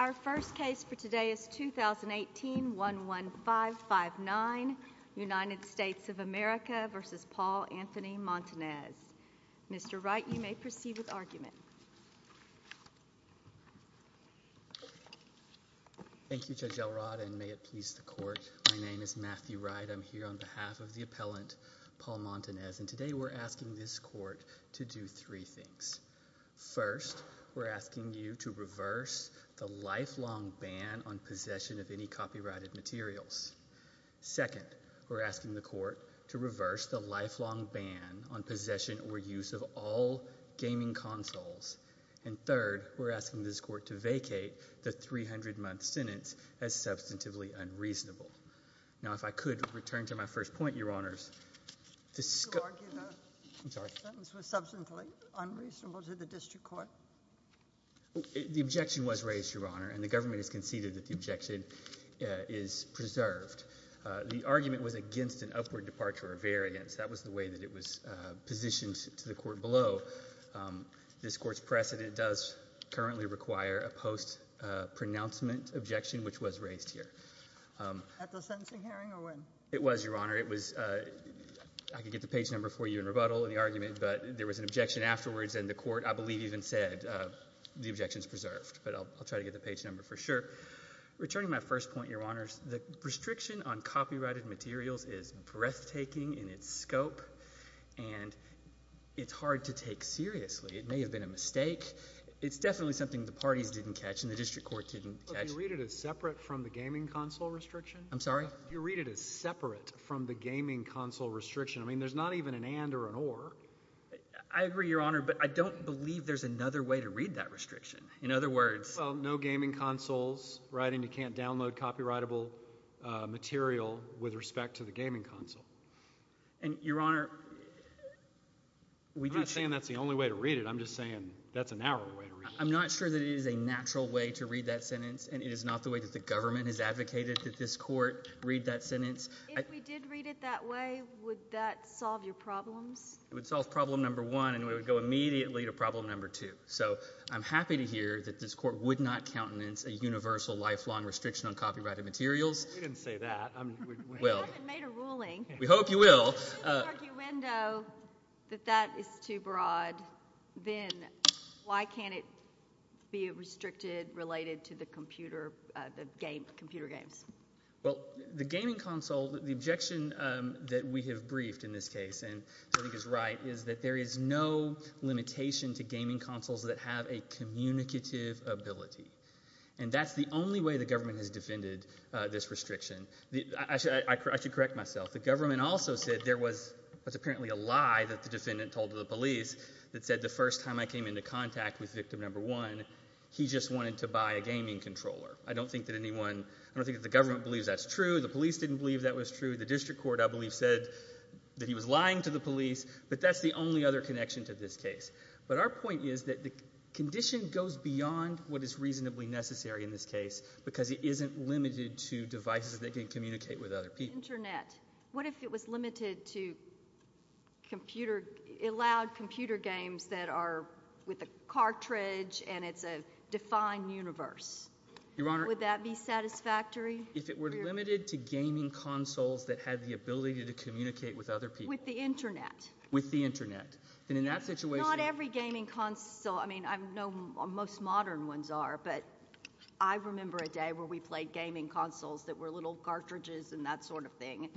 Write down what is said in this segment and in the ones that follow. Our first case for today is 2018-11559, United States of America v. Paul Anthony Montanez. Mr. Wright, you may proceed with argument. Thank you, Judge Elrod, and may it please the Court. My name is Matthew Wright. I'm here on behalf of the appellant, Paul Montanez, and today we're asking this Court to do three things. First, we're asking you to reverse the lifelong ban on possession of any copyrighted materials. Second, we're asking the Court to reverse the lifelong ban on possession or use of all gaming consoles. And third, we're asking this Court to vacate the 300-month sentence as substantively unreasonable. Now, if I could return to my first point, Your Honors. You argue the sentence was substantively unreasonable to the district court? The objection was raised, Your Honor, and the government has conceded that the objection is preserved. The argument was against an upward departure or variance. That was the way that it was positioned to the Court below. This Court's precedent does currently require a post-pronouncement objection, which was raised here. At the sentencing hearing, or when? It was, Your Honor. I could get the page number for you in rebuttal in the argument, but there was an objection afterwards, and the Court, I believe, even said the objection is preserved. But I'll try to get the page number for sure. Returning to my first point, Your Honors, the restriction on copyrighted materials is breathtaking in its scope, and it's hard to take seriously. It may have been a mistake. It's definitely something the parties didn't catch and the district court didn't catch. You read it as separate from the gaming console restriction? I'm sorry? You read it as separate from the gaming console restriction. I mean there's not even an and or an or. I agree, Your Honor, but I don't believe there's another way to read that restriction. In other words— Well, no gaming consoles, right? And you can't download copyrightable material with respect to the gaming console. And, Your Honor— I'm not saying that's the only way to read it. I'm just saying that's a narrow way to read it. I'm not sure that it is a natural way to read that sentence, and it is not the way that the government has advocated that this court read that sentence. If we did read it that way, would that solve your problems? It would solve problem number one, and we would go immediately to problem number two. So I'm happy to hear that this court would not countenance a universal, lifelong restriction on copyrighted materials. We didn't say that. We haven't made a ruling. We hope you will. Well, if there's an argument that that is too broad, then why can't it be restricted related to the computer games? Well, the gaming console, the objection that we have briefed in this case, and I think is right, is that there is no limitation to gaming consoles that have a communicative ability. And that's the only way the government has defended this restriction. I should correct myself. The government also said there was apparently a lie that the defendant told to the police that said the first time I came into contact with victim number one, he just wanted to buy a gaming controller. I don't think that anyone – I don't think that the government believes that's true. The police didn't believe that was true. The district court, I believe, said that he was lying to the police. But that's the only other connection to this case. But our point is that the condition goes beyond what is reasonably necessary in this case because it isn't limited to devices that can communicate with other people. Internet. What if it was limited to computer – allowed computer games that are with a cartridge and it's a defined universe? Your Honor. Would that be satisfactory? If it were limited to gaming consoles that had the ability to communicate with other people. With the Internet. With the Internet. Then in that situation – Not every gaming console – I mean, I know most modern ones are, but I remember a day where we played gaming consoles that were little cartridges and that sort of thing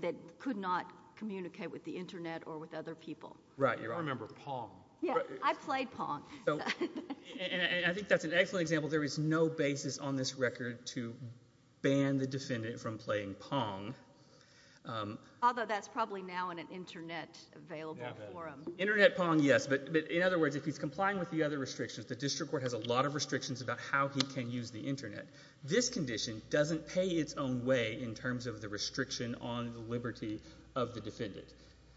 that could not communicate with the Internet or with other people. Right, Your Honor. I remember Pong. Yeah, I played Pong. And I think that's an excellent example. There is no basis on this record to ban the defendant from playing Pong. Although that's probably now in an Internet available forum. Internet Pong, yes. But in other words, if he's complying with the other restrictions, the district court has a lot of restrictions about how he can use the Internet. This condition doesn't pay its own way in terms of the restriction on the liberty of the defendant.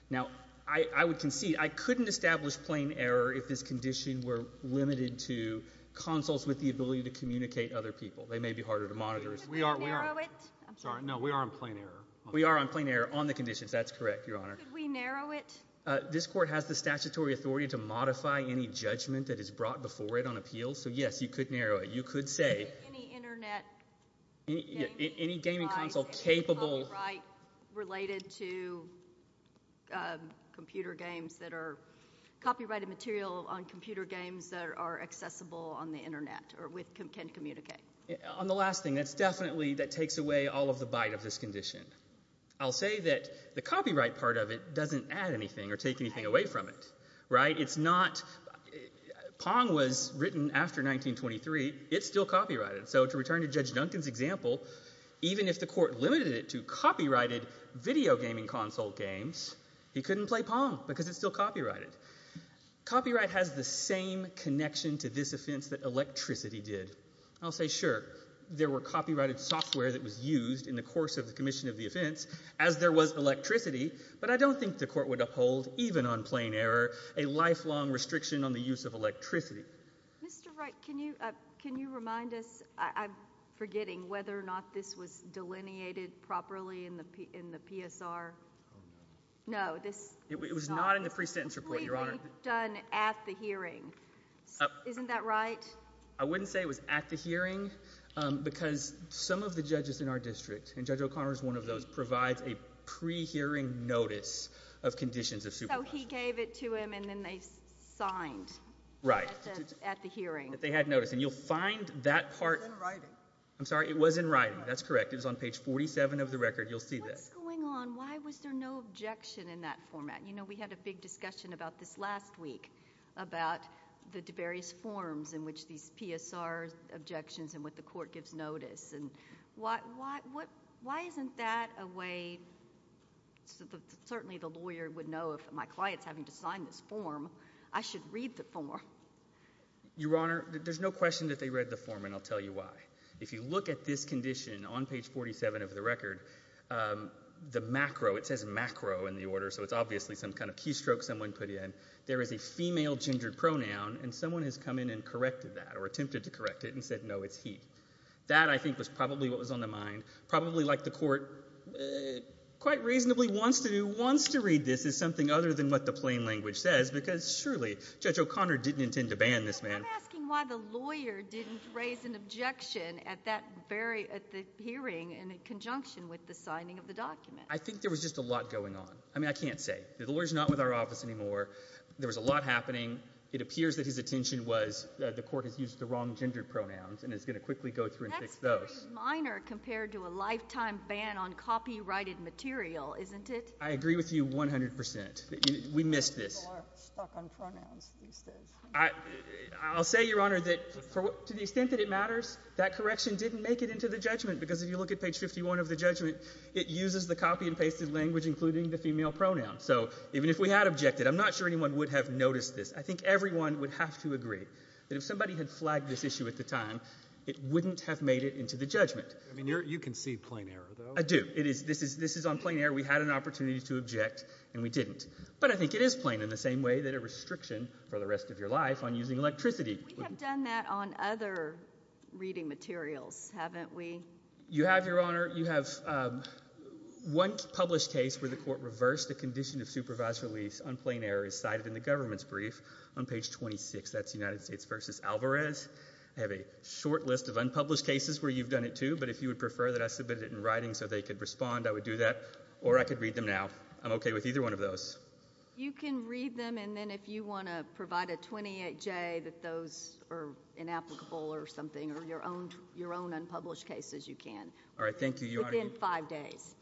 Now, I would concede I couldn't establish plain error if this condition were limited to consoles with the ability to communicate with other people. They may be harder to monitor. Could we narrow it? I'm sorry. No, we are on plain error. We are on plain error on the conditions. That's correct, Your Honor. Could we narrow it? This court has the statutory authority to modify any judgment that is brought before it on appeals. So, yes, you could narrow it. You could say – Any Internet gaming device – Any gaming console capable – Any copyright related to computer games that are copyrighted material on computer games that are accessible on the Internet or can communicate. On the last thing, that's definitely – that takes away all of the bite of this condition. I'll say that the copyright part of it doesn't add anything or take anything away from it. Right? It's not – Pong was written after 1923. It's still copyrighted. So to return to Judge Duncan's example, even if the court limited it to copyrighted video gaming console games, he couldn't play Pong because it's still copyrighted. Copyright has the same connection to this offense that electricity did. I'll say, sure, there were copyrighted software that was used in the course of the commission of the offense, as there was electricity, but I don't think the court would uphold, even on plain error, a lifelong restriction on the use of electricity. Mr. Wright, can you remind us – I'm forgetting whether or not this was delineated properly in the PSR. No, this – It was not in the pre-sentence report, Your Honor. It was completely done at the hearing. Isn't that right? I wouldn't say it was at the hearing because some of the judges in our district, and Judge O'Connor is one of those, provides a pre-hearing notice of conditions of supervision. So he gave it to him, and then they signed at the hearing. Right, that they had notice. And you'll find that part – It was in writing. I'm sorry, it was in writing. That's correct. It was on page 47 of the record. You'll see that. What's going on? Why was there no objection in that format? You know, we had a big discussion about this last week, about the various forms in which these PSR objections and what the court gives notice, and why isn't that a way – certainly the lawyer would know if my client's having to sign this form, I should read the form. Your Honor, there's no question that they read the form, and I'll tell you why. If you look at this condition on page 47 of the record, the macro – it's obviously some kind of keystroke someone put in – there is a female gendered pronoun, and someone has come in and corrected that, or attempted to correct it, and said, no, it's he. That, I think, was probably what was on the mind. Probably like the court quite reasonably wants to do – wants to read this as something other than what the plain language says, because surely Judge O'Connor didn't intend to ban this man. I'm asking why the lawyer didn't raise an objection at that very – at the hearing in conjunction with the signing of the document. I think there was just a lot going on. I mean, I can't say. The lawyer's not with our office anymore. There was a lot happening. It appears that his attention was the court has used the wrong gendered pronouns, and is going to quickly go through and fix those. That's very minor compared to a lifetime ban on copyrighted material, isn't it? I agree with you 100 percent. We missed this. People are stuck on pronouns these days. I'll say, Your Honor, that to the extent that it matters, that correction didn't make it into the judgment, because if you look at page 51 of the judgment, it uses the copy and pasted language including the female pronoun. So even if we had objected, I'm not sure anyone would have noticed this. I think everyone would have to agree that if somebody had flagged this issue at the time, it wouldn't have made it into the judgment. I mean, you can see plain error, though. I do. This is on plain error. We had an opportunity to object, and we didn't. But I think it is plain in the same way that a restriction for the rest of your life on using electricity. We have done that on other reading materials, haven't we? You have, Your Honor. You have one published case where the court reversed the condition of supervised release on plain error as cited in the government's brief on page 26. That's United States v. Alvarez. I have a short list of unpublished cases where you've done it too, but if you would prefer that I submitted it in writing so they could respond, I would do that. Or I could read them now. I'm okay with either one of those. You can read them, and then if you want to provide a 28J that those are inapplicable or something or your own unpublished cases, you can. All right. Thank you, Your Honor. Within five days.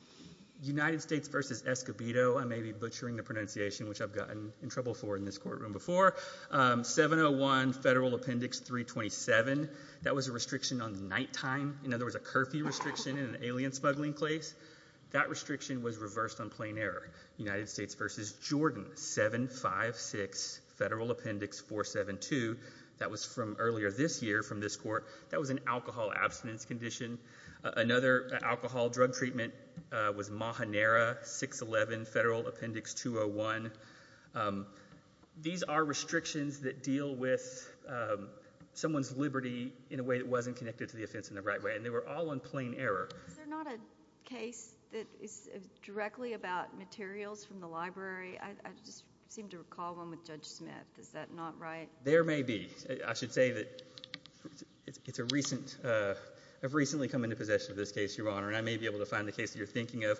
United States v. Escobedo. I may be butchering the pronunciation, which I've gotten in trouble for in this courtroom before. 701 Federal Appendix 327, that was a restriction on nighttime. In other words, a curfew restriction in an alien smuggling place. That restriction was reversed on plain error. United States v. Jordan 756 Federal Appendix 472. That was from earlier this year from this court. That was an alcohol abstinence condition. Another alcohol drug treatment was Mahanera 611 Federal Appendix 201. These are restrictions that deal with someone's liberty in a way that wasn't connected to the offense in the right way, and they were all on plain error. Is there not a case that is directly about materials from the library? I just seem to recall one with Judge Smith. Is that not right? There may be. I should say that I've recently come into possession of this case, Your Honor, and I may be able to find the case that you're thinking of.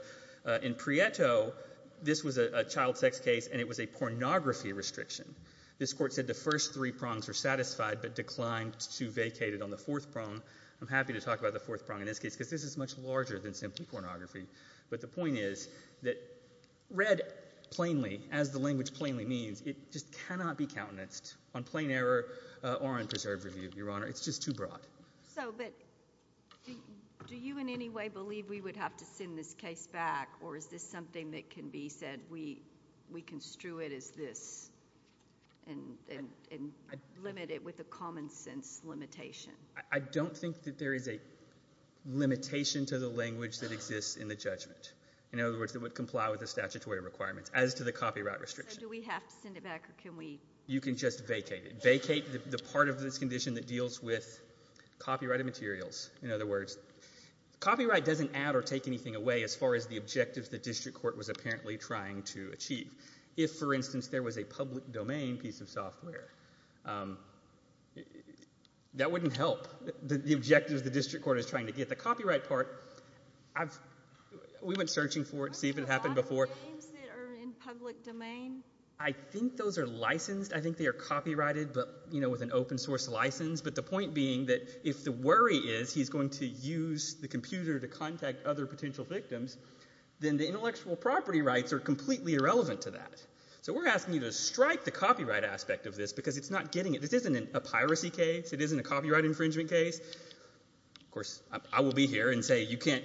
In Prieto, this was a child sex case, and it was a pornography restriction. This court said the first three prongs were satisfied but declined to vacate it on the fourth prong. I'm happy to talk about the fourth prong in this case because this is much larger than simply pornography. But the point is that read plainly, as the language plainly means, it just cannot be countenanced on plain error or on preserved review, Your Honor. It's just too broad. But do you in any way believe we would have to send this case back, or is this something that can be said we construe it as this and limit it with a common-sense limitation? I don't think that there is a limitation to the language that exists in the judgment. In other words, it would comply with the statutory requirements as to the copyright restriction. So do we have to send it back, or can we? You can just vacate it. Vacate the part of this condition that deals with copyrighted materials. In other words, copyright doesn't add or take anything away as far as the objectives the district court was apparently trying to achieve. If, for instance, there was a public domain piece of software, that wouldn't help. The objective of the district court is trying to get the copyright part. We went searching for it to see if it had happened before. Are there games that are in public domain? I think those are licensed. I think they are copyrighted but with an open source license. But the point being that if the worry is he's going to use the computer to contact other potential victims, then the intellectual property rights are completely irrelevant to that. So we're asking you to strike the copyright aspect of this because it's not getting it. This isn't a piracy case. It isn't a copyright infringement case. Of course, I will be here and say you can't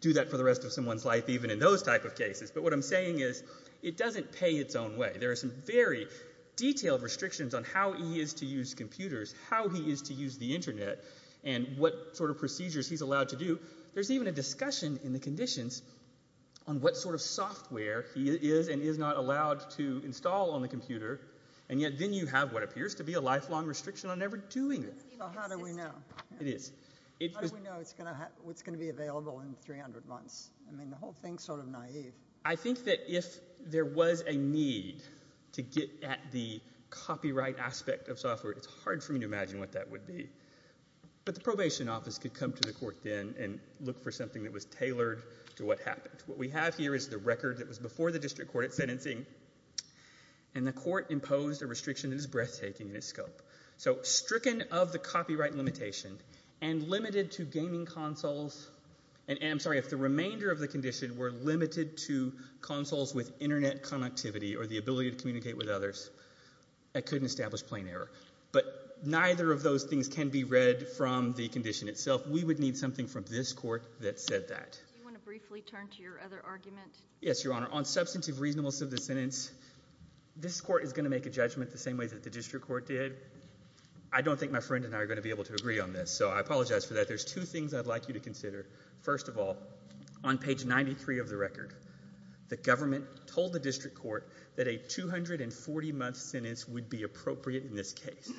do that for the rest of someone's life, even in those type of cases. But what I'm saying is it doesn't pay its own way. There are some very detailed restrictions on how he is to use computers, how he is to use the Internet, and what sort of procedures he's allowed to do. There's even a discussion in the conditions on what sort of software he is and is not allowed to install on the computer, and yet then you have what appears to be a lifelong restriction on ever doing it. How do we know? It is. How do we know what's going to be available in 300 months? I mean the whole thing is sort of naive. I think that if there was a need to get at the copyright aspect of software, it's hard for me to imagine what that would be. But the probation office could come to the court then and look for something that was tailored to what happened. What we have here is the record that was before the district court at sentencing, and the court imposed a restriction that is breathtaking in its scope. So stricken of the copyright limitation and limited to gaming consoles, and I'm sorry, if the remainder of the condition were limited to consoles with Internet connectivity or the ability to communicate with others, I couldn't establish plain error. But neither of those things can be read from the condition itself. We would need something from this court that said that. Do you want to briefly turn to your other argument? Yes, Your Honor. On substantive reasonableness of the sentence, this court is going to make a judgment the same way that the district court did. I don't think my friend and I are going to be able to agree on this, so I apologize for that. There's two things I'd like you to consider. First of all, on page 93 of the record, the government told the district court that a 240-month sentence would be appropriate in this case.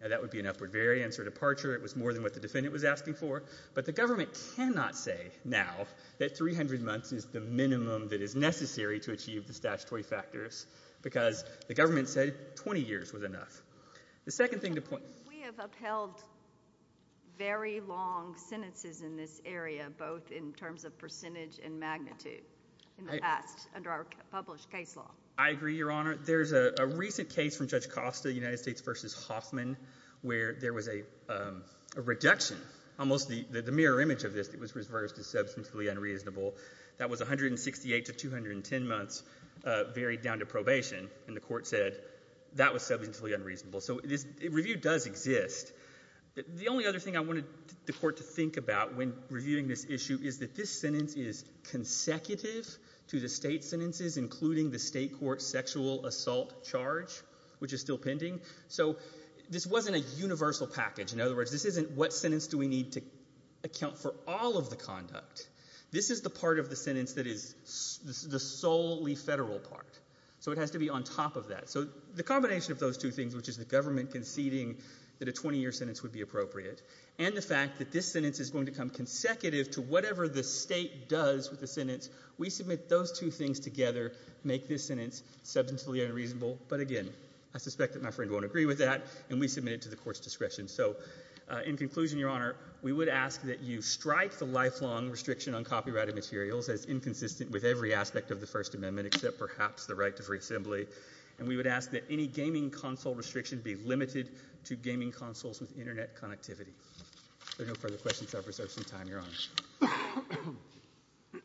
Now, that would be an upward variance or departure. It was more than what the defendant was asking for. But the government cannot say now that 300 months is the minimum that is necessary to achieve the statutory factors because the government said 20 years was enough. The second thing to point— We have upheld very long sentences in this area, both in terms of percentage and magnitude in the past under our published case law. I agree, Your Honor. There's a recent case from Judge Costa, United States v. Hoffman, where there was a reduction. Almost the mirror image of this was reversed as substantially unreasonable. That was 168 to 210 months, varied down to probation, and the court said that was substantially unreasonable. So this review does exist. The only other thing I wanted the court to think about when reviewing this issue is that this sentence is consecutive to the state sentences, including the state court sexual assault charge, which is still pending. So this wasn't a universal package. In other words, this isn't what sentence do we need to account for all of the conduct. This is the part of the sentence that is the solely federal part. So it has to be on top of that. So the combination of those two things, which is the government conceding that a 20-year sentence would be appropriate and the fact that this sentence is going to come consecutive to whatever the state does with the sentence, we submit those two things together make this sentence substantially unreasonable. But again, I suspect that my friend won't agree with that, and we submit it to the court's discretion. So in conclusion, Your Honor, we would ask that you strike the lifelong restriction on copyrighted materials as inconsistent with every aspect of the First Amendment except perhaps the right to free assembly, and we would ask that any gaming console restriction be limited to gaming consoles with Internet connectivity. There are no further questions. I have reserved some time. Your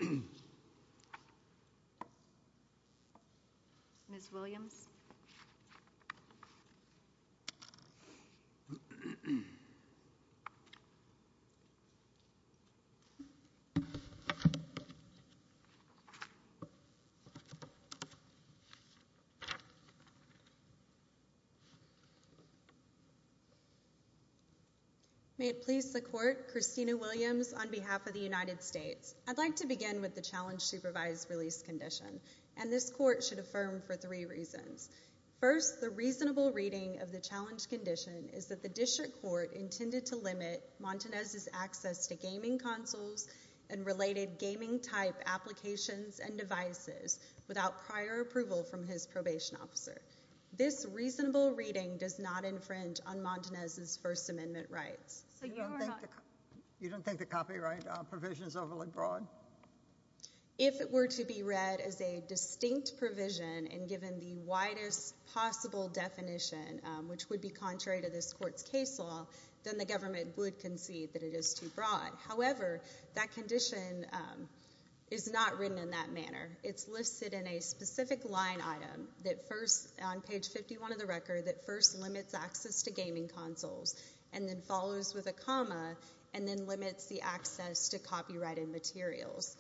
Honor. Ms. Williams. May it please the court. Christina Williams on behalf of the United States. I'd like to begin with the challenge supervised release condition, and this court should affirm for three reasons. First, the reasonable reading of the challenge condition is that the district court intended to limit Montanez's access to gaming consoles and related gaming-type applications and devices without prior approval from his probation officer. This reasonable reading does not infringe on Montanez's First Amendment rights. You don't think the copyright provision is overly broad? If it were to be read as a distinct provision and given the widest possible definition, which would be contrary to this court's case law, then the government would concede that it is too broad. However, that condition is not written in that manner. It's listed in a specific line item on page 51 of the record that first limits access to gaming consoles and then follows with a comma and then limits the access to copyrighted materials.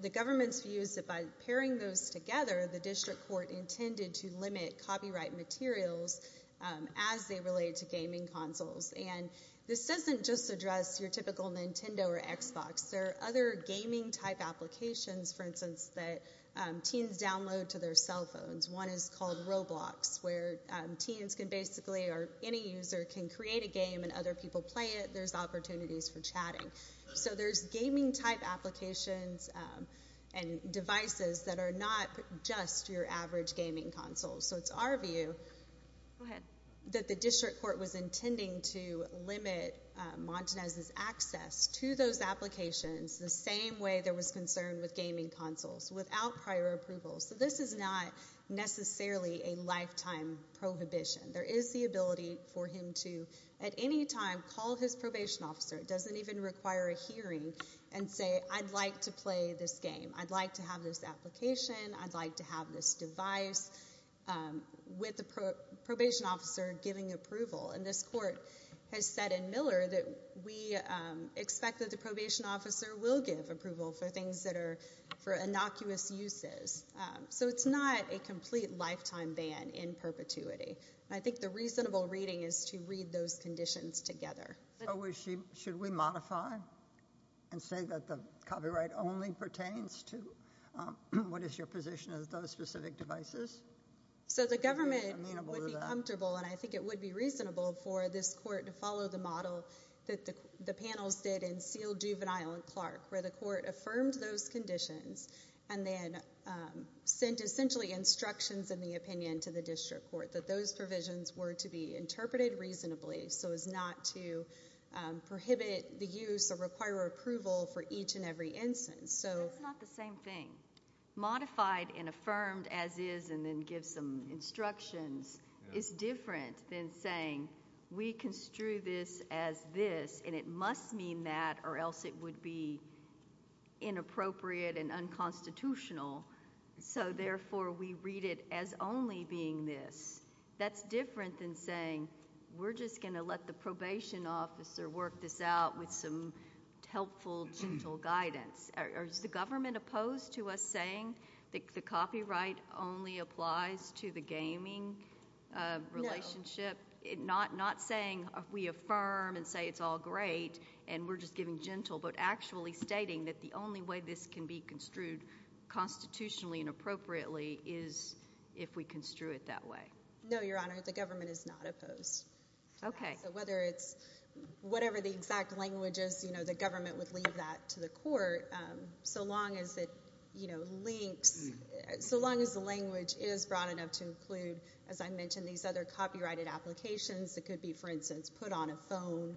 The government's view is that by pairing those together, the district court intended to limit copyright materials as they relate to gaming consoles. This doesn't just address your typical Nintendo or Xbox. There are other gaming-type applications, for instance, that teens download to their cell phones. One is called Roblox, where teens can basically, or any user, can create a game and other people play it. There's opportunities for chatting. So there's gaming-type applications and devices that are not just your average gaming console. So it's our view that the district court was intending to limit Montanez's access to those applications the same way there was concern with gaming consoles, without prior approval. So this is not necessarily a lifetime prohibition. There is the ability for him to, at any time, call his probation officer. It doesn't even require a hearing and say, I'd like to play this game, I'd like to have this application, I'd like to have this device, with the probation officer giving approval. And this court has said in Miller that we expect that the probation officer will give approval for things that are for innocuous uses. So it's not a complete lifetime ban in perpetuity. I think the reasonable reading is to read those conditions together. So should we modify and say that the copyright only pertains to what is your position of those specific devices? So the government would be comfortable, and I think it would be reasonable, for this court to follow the model that the panels did in Seal, Juvenile, and Clark, where the court affirmed those conditions and then sent essentially instructions in the opinion to the district court that those provisions were to be interpreted reasonably so as not to prohibit the use or require approval for each and every instance. That's not the same thing. Modified and affirmed as is, and then give some instructions, is different than saying we construe this as this, and it must mean that or else it would be inappropriate and unconstitutional, so therefore we read it as only being this. That's different than saying we're just going to let the probation officer work this out with some helpful, gentle guidance. Is the government opposed to us saying that the copyright only applies to the gaming relationship? No. Not saying we affirm and say it's all great and we're just giving gentle, but actually stating that the only way this can be construed constitutionally and appropriately is if we construe it that way. No, Your Honor, the government is not opposed. Okay. So whether it's whatever the exact language is, you know, the government would leave that to the court so long as it links, so long as the language is broad enough to include, as I mentioned, these other copyrighted applications that could be, for instance, put on a phone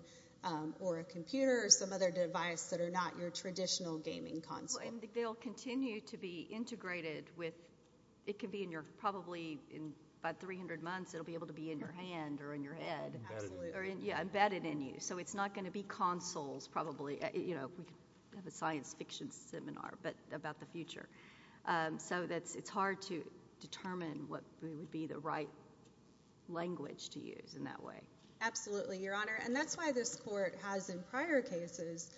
or a computer or some other device that are not your traditional gaming console. They'll continue to be integrated with it could be in your probably in about 300 months it will be able to be in your hand or in your head. Absolutely. Or embedded in you. So it's not going to be consoles probably, you know, we could have a science fiction seminar, but about the future. So it's hard to determine what would be the right language to use in that way. Absolutely, Your Honor, and that's why this court has in prior cases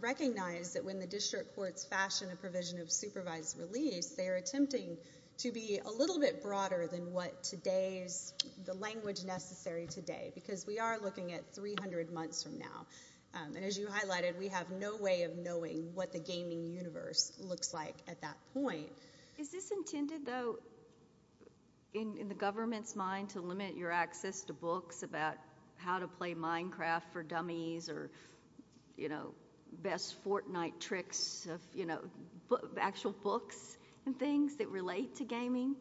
recognized that when the district courts fashion a provision of supervised release, they are attempting to be a little bit broader than what today's, the language necessary today because we are looking at 300 months from now. And as you highlighted, we have no way of knowing what the gaming universe looks like at that point. Is this intended, though, in the government's mind to limit your access to books about how to play Minecraft for dummies or, you know, best Fortnite tricks, you know, actual books and things that relate to gaming?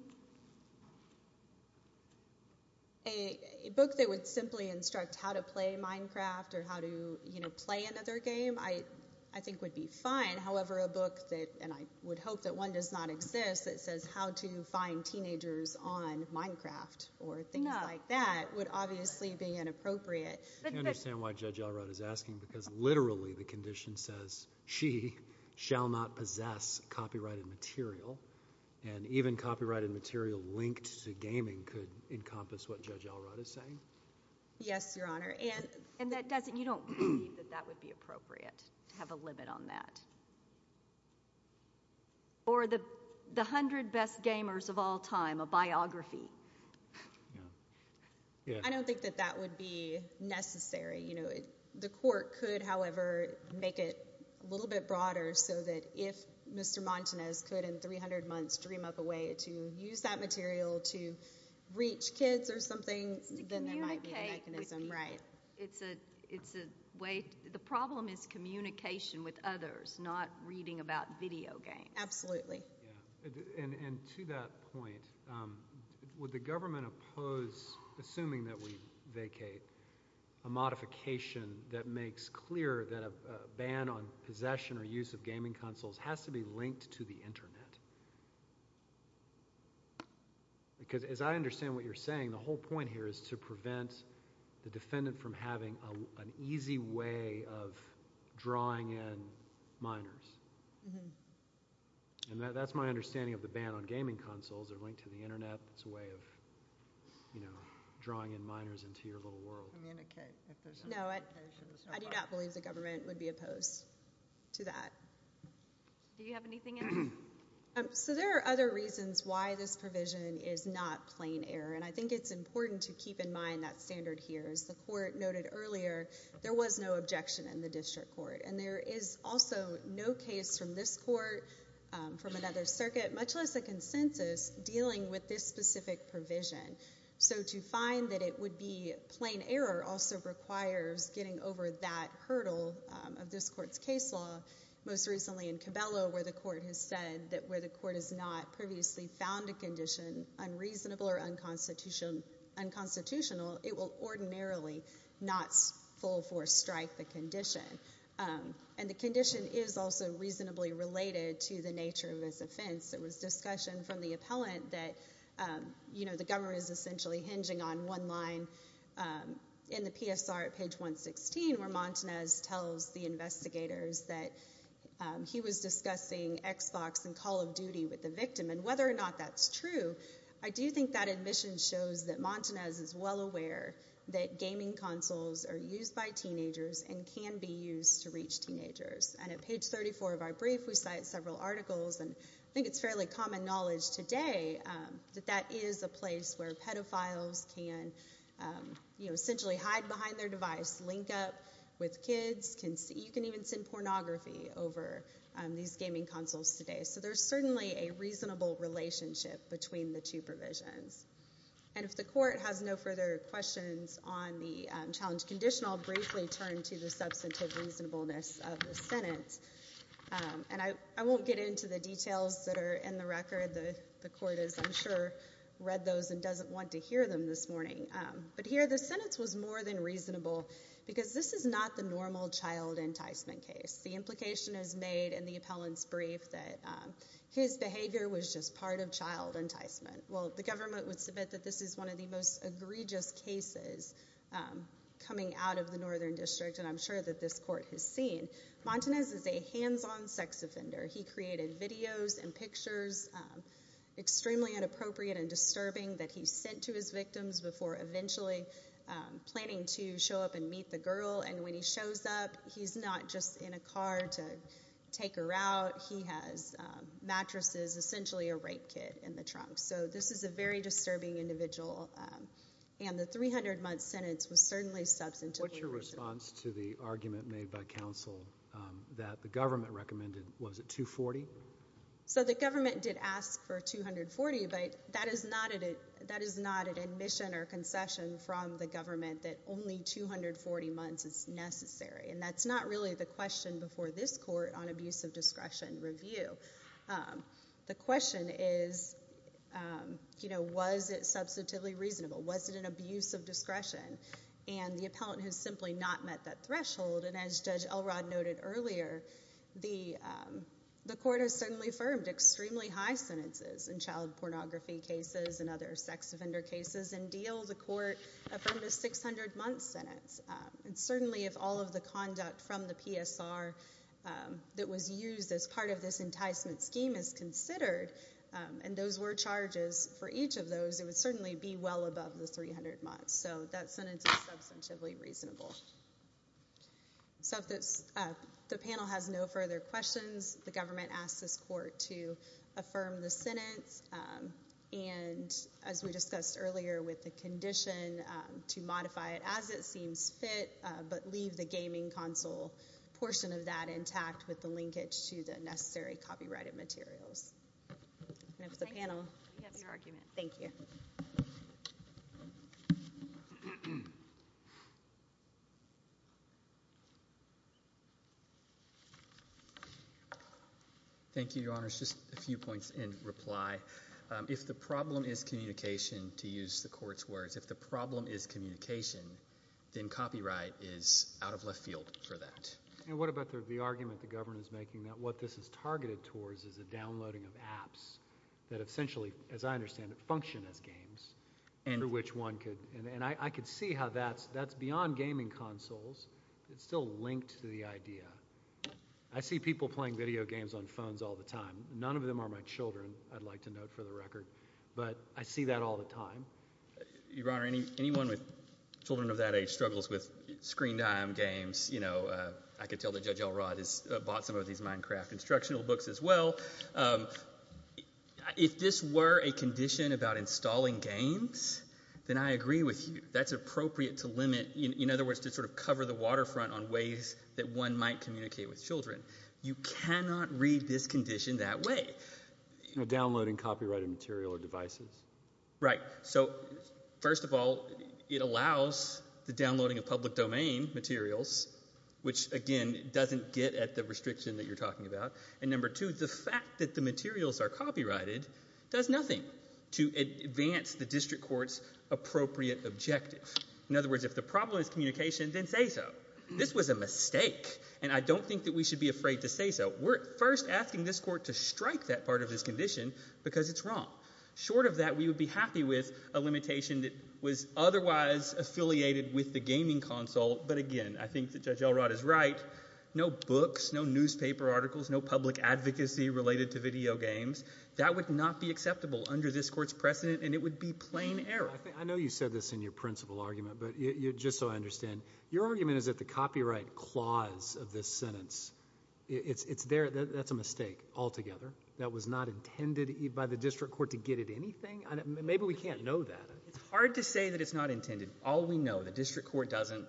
A book that would simply instruct how to play Minecraft or how to, you know, play another game I think would be fine. However, a book that, and I would hope that one does not exist, that says how to find teenagers on Minecraft or things like that would obviously be inappropriate. I understand why Judge Allred is asking because literally the condition says she shall not possess copyrighted material, and even copyrighted material linked to gaming could encompass what Judge Allred is saying. Yes, Your Honor. And that doesn't, you don't believe that that would be appropriate to have a limit on that? Or the 100 best gamers of all time, a biography. Yeah. I don't think that that would be necessary. You know, the court could, however, make it a little bit broader so that if Mr. Montanez could in 300 months dream up a way to use that material to reach kids or something, then there might be a mechanism. To communicate with people. Right. It's a way, the problem is communication with others, not reading about video games. Absolutely. And to that point, would the government oppose, assuming that we vacate, a modification that makes clear that a ban on possession or use of gaming consoles has to be linked to the Internet? Because as I understand what you're saying, the whole point here is to prevent the defendant from having an easy way of drawing in minors. And that's my understanding of the ban on gaming consoles. They're linked to the Internet. It's a way of, you know, drawing in minors into your little world. Communicate. No, I do not believe the government would be opposed to that. Do you have anything else? So there are other reasons why this provision is not plain error, and I think it's important to keep in mind that standard here. As the court noted earlier, there was no objection in the district court, and there is also no case from this court, from another circuit, much less a consensus dealing with this specific provision. So to find that it would be plain error also requires getting over that hurdle of this court's case law. Most recently in Cabello where the court has said that where the court has not previously found a condition unreasonable or unconstitutional, it will ordinarily not full force strike the condition. And the condition is also reasonably related to the nature of this offense. There was discussion from the appellant that, you know, the government is essentially hinging on one line in the PSR at page 116 where Montanez tells the investigators that he was discussing Xbox and Call of Duty with the victim. And whether or not that's true, I do think that admission shows that Montanez is well aware that gaming consoles are used by teenagers and can be used to reach teenagers. And at page 34 of our brief we cite several articles, and I think it's fairly common knowledge today that that is a place where pedophiles can, you know, essentially hide behind their device, link up with kids. You can even send pornography over these gaming consoles today. So there's certainly a reasonable relationship between the two provisions. And if the court has no further questions on the challenge condition, I'll briefly turn to the substantive reasonableness of the sentence. And I won't get into the details that are in the record. The court has, I'm sure, read those and doesn't want to hear them this morning. But here the sentence was more than reasonable because this is not the normal child enticement case. The implication is made in the appellant's brief that his behavior was just part of child enticement. Well, the government would submit that this is one of the most egregious cases coming out of the Northern District, and I'm sure that this court has seen. Montanez is a hands-on sex offender. He created videos and pictures, extremely inappropriate and disturbing, that he sent to his victims before eventually planning to show up and meet the girl. And when he shows up, he's not just in a car to take her out. He has mattresses, essentially a rape kit in the trunk. So this is a very disturbing individual. And the 300-month sentence was certainly substantive. What's your response to the argument made by counsel that the government recommended, was it 240? So the government did ask for 240, but that is not an admission or concession from the government that only 240 months is necessary. And that's not really the question before this court on abuse of discretion review. The question is, was it substantively reasonable? Was it an abuse of discretion? And the appellant has simply not met that threshold. And as Judge Elrod noted earlier, the court has certainly affirmed extremely high sentences in child pornography cases and other sex offender cases. In Diehl, the court affirmed a 600-month sentence. And certainly if all of the conduct from the PSR that was used as part of this enticement scheme is considered, and those were charges for each of those, it would certainly be well above the 300 months. So that sentence is substantively reasonable. So if the panel has no further questions, the government asks this court to affirm the sentence. And as we discussed earlier with the condition to modify it as it seems fit, but leave the gaming console portion of that intact with the linkage to the necessary copyrighted materials. And if the panel... We have your argument. Thank you. Thank you, Your Honors. Just a few points in reply. If the problem is communication, to use the court's words, if the problem is communication, then copyright is out of left field for that. And what about the argument the government is making that what this is targeted towards is a downloading of apps that essentially, as I understand it, function as games, under which one could... And I could see how that's beyond gaming consoles. It's still linked to the idea. I see people playing video games on phones all the time. None of them are my children, I'd like to note for the record. But I see that all the time. Your Honor, anyone with children of that age struggles with screen-time games. You know, I could tell that Judge Elrod has bought some of these Minecraft instructional books as well. If this were a condition about installing games, then I agree with you. That's appropriate to limit... In other words, to sort of cover the waterfront on ways that one might communicate with children. You cannot read this condition that way. Downloading copyrighted material or devices. Right. So, first of all, it allows the downloading of public domain materials, which, again, doesn't get at the restriction that you're talking about. And number two, the fact that the materials are copyrighted does nothing to advance the district court's appropriate objective. In other words, if the problem is communication, then say so. This was a mistake, and I don't think that we should be afraid to say so. We're first asking this court to strike that part of this condition because it's wrong. Short of that, we would be happy with a limitation that was otherwise affiliated with the gaming console. But again, I think that Judge Elrod is right. No books, no newspaper articles, no public advocacy related to video games. That would not be acceptable under this court's precedent, and it would be plain error. I know you said this in your principal argument, but just so I understand, your argument is that the copyright clause of this sentence, that's a mistake altogether. That was not intended by the district court to get at anything? Maybe we can't know that. It's hard to say that it's not intended. All we know, the district court doesn't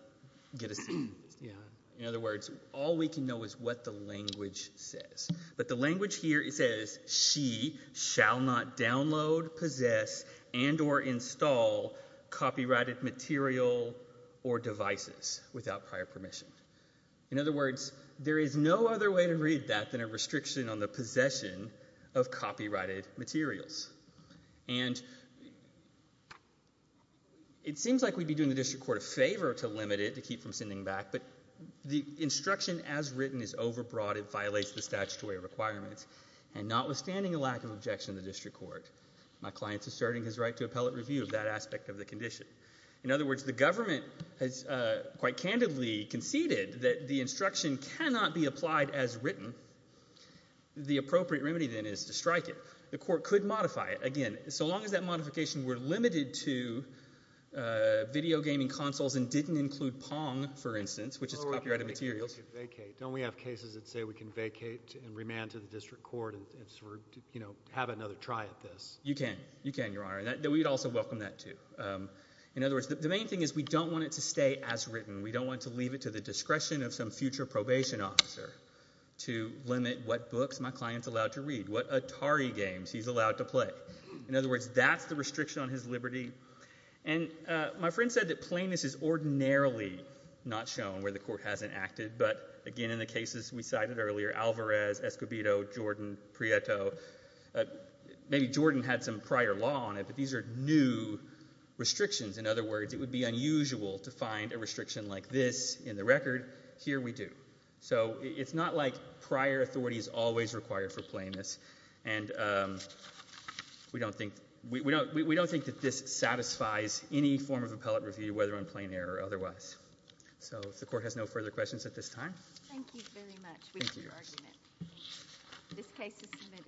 get a say in this. In other words, all we can know is what the language says. But the language here says, she shall not download, possess, and or install copyrighted material or devices without prior permission. In other words, there is no other way to read that other than a restriction on the possession of copyrighted materials. And it seems like we'd be doing the district court a favor to limit it to keep from sending back, but the instruction as written is overbroad and violates the statutory requirements. And notwithstanding the lack of objection of the district court, my client is asserting his right to appellate review of that aspect of the condition. In other words, the government has quite candidly conceded that the instruction cannot be applied as written. The appropriate remedy then is to strike it. The court could modify it. Again, so long as that modification were limited to video gaming consoles and didn't include Pong, for instance, which is copyrighted materials. Don't we have cases that say we can vacate and remand to the district court and have another try at this? You can, Your Honor. We'd also welcome that too. In other words, the main thing is we don't want it to stay as written. We don't want to leave it to the discretion of some future probation officer to limit what books my client's allowed to read, what Atari games he's allowed to play. In other words, that's the restriction on his liberty. And my friend said that plainness is ordinarily not shown where the court hasn't acted, but again in the cases we cited earlier, Alvarez, Escobedo, Jordan, Prieto, maybe Jordan had some prior law on it, but these are new restrictions. In other words, it would be unusual to find a restriction like this in the record. Here we do. So it's not like prior authority is always required for plainness, and we don't think that this satisfies any form of appellate review, whether on plain error or otherwise. So if the court has no further questions at this time. Thank you very much. Thank you, Your Honor. This case is submitted.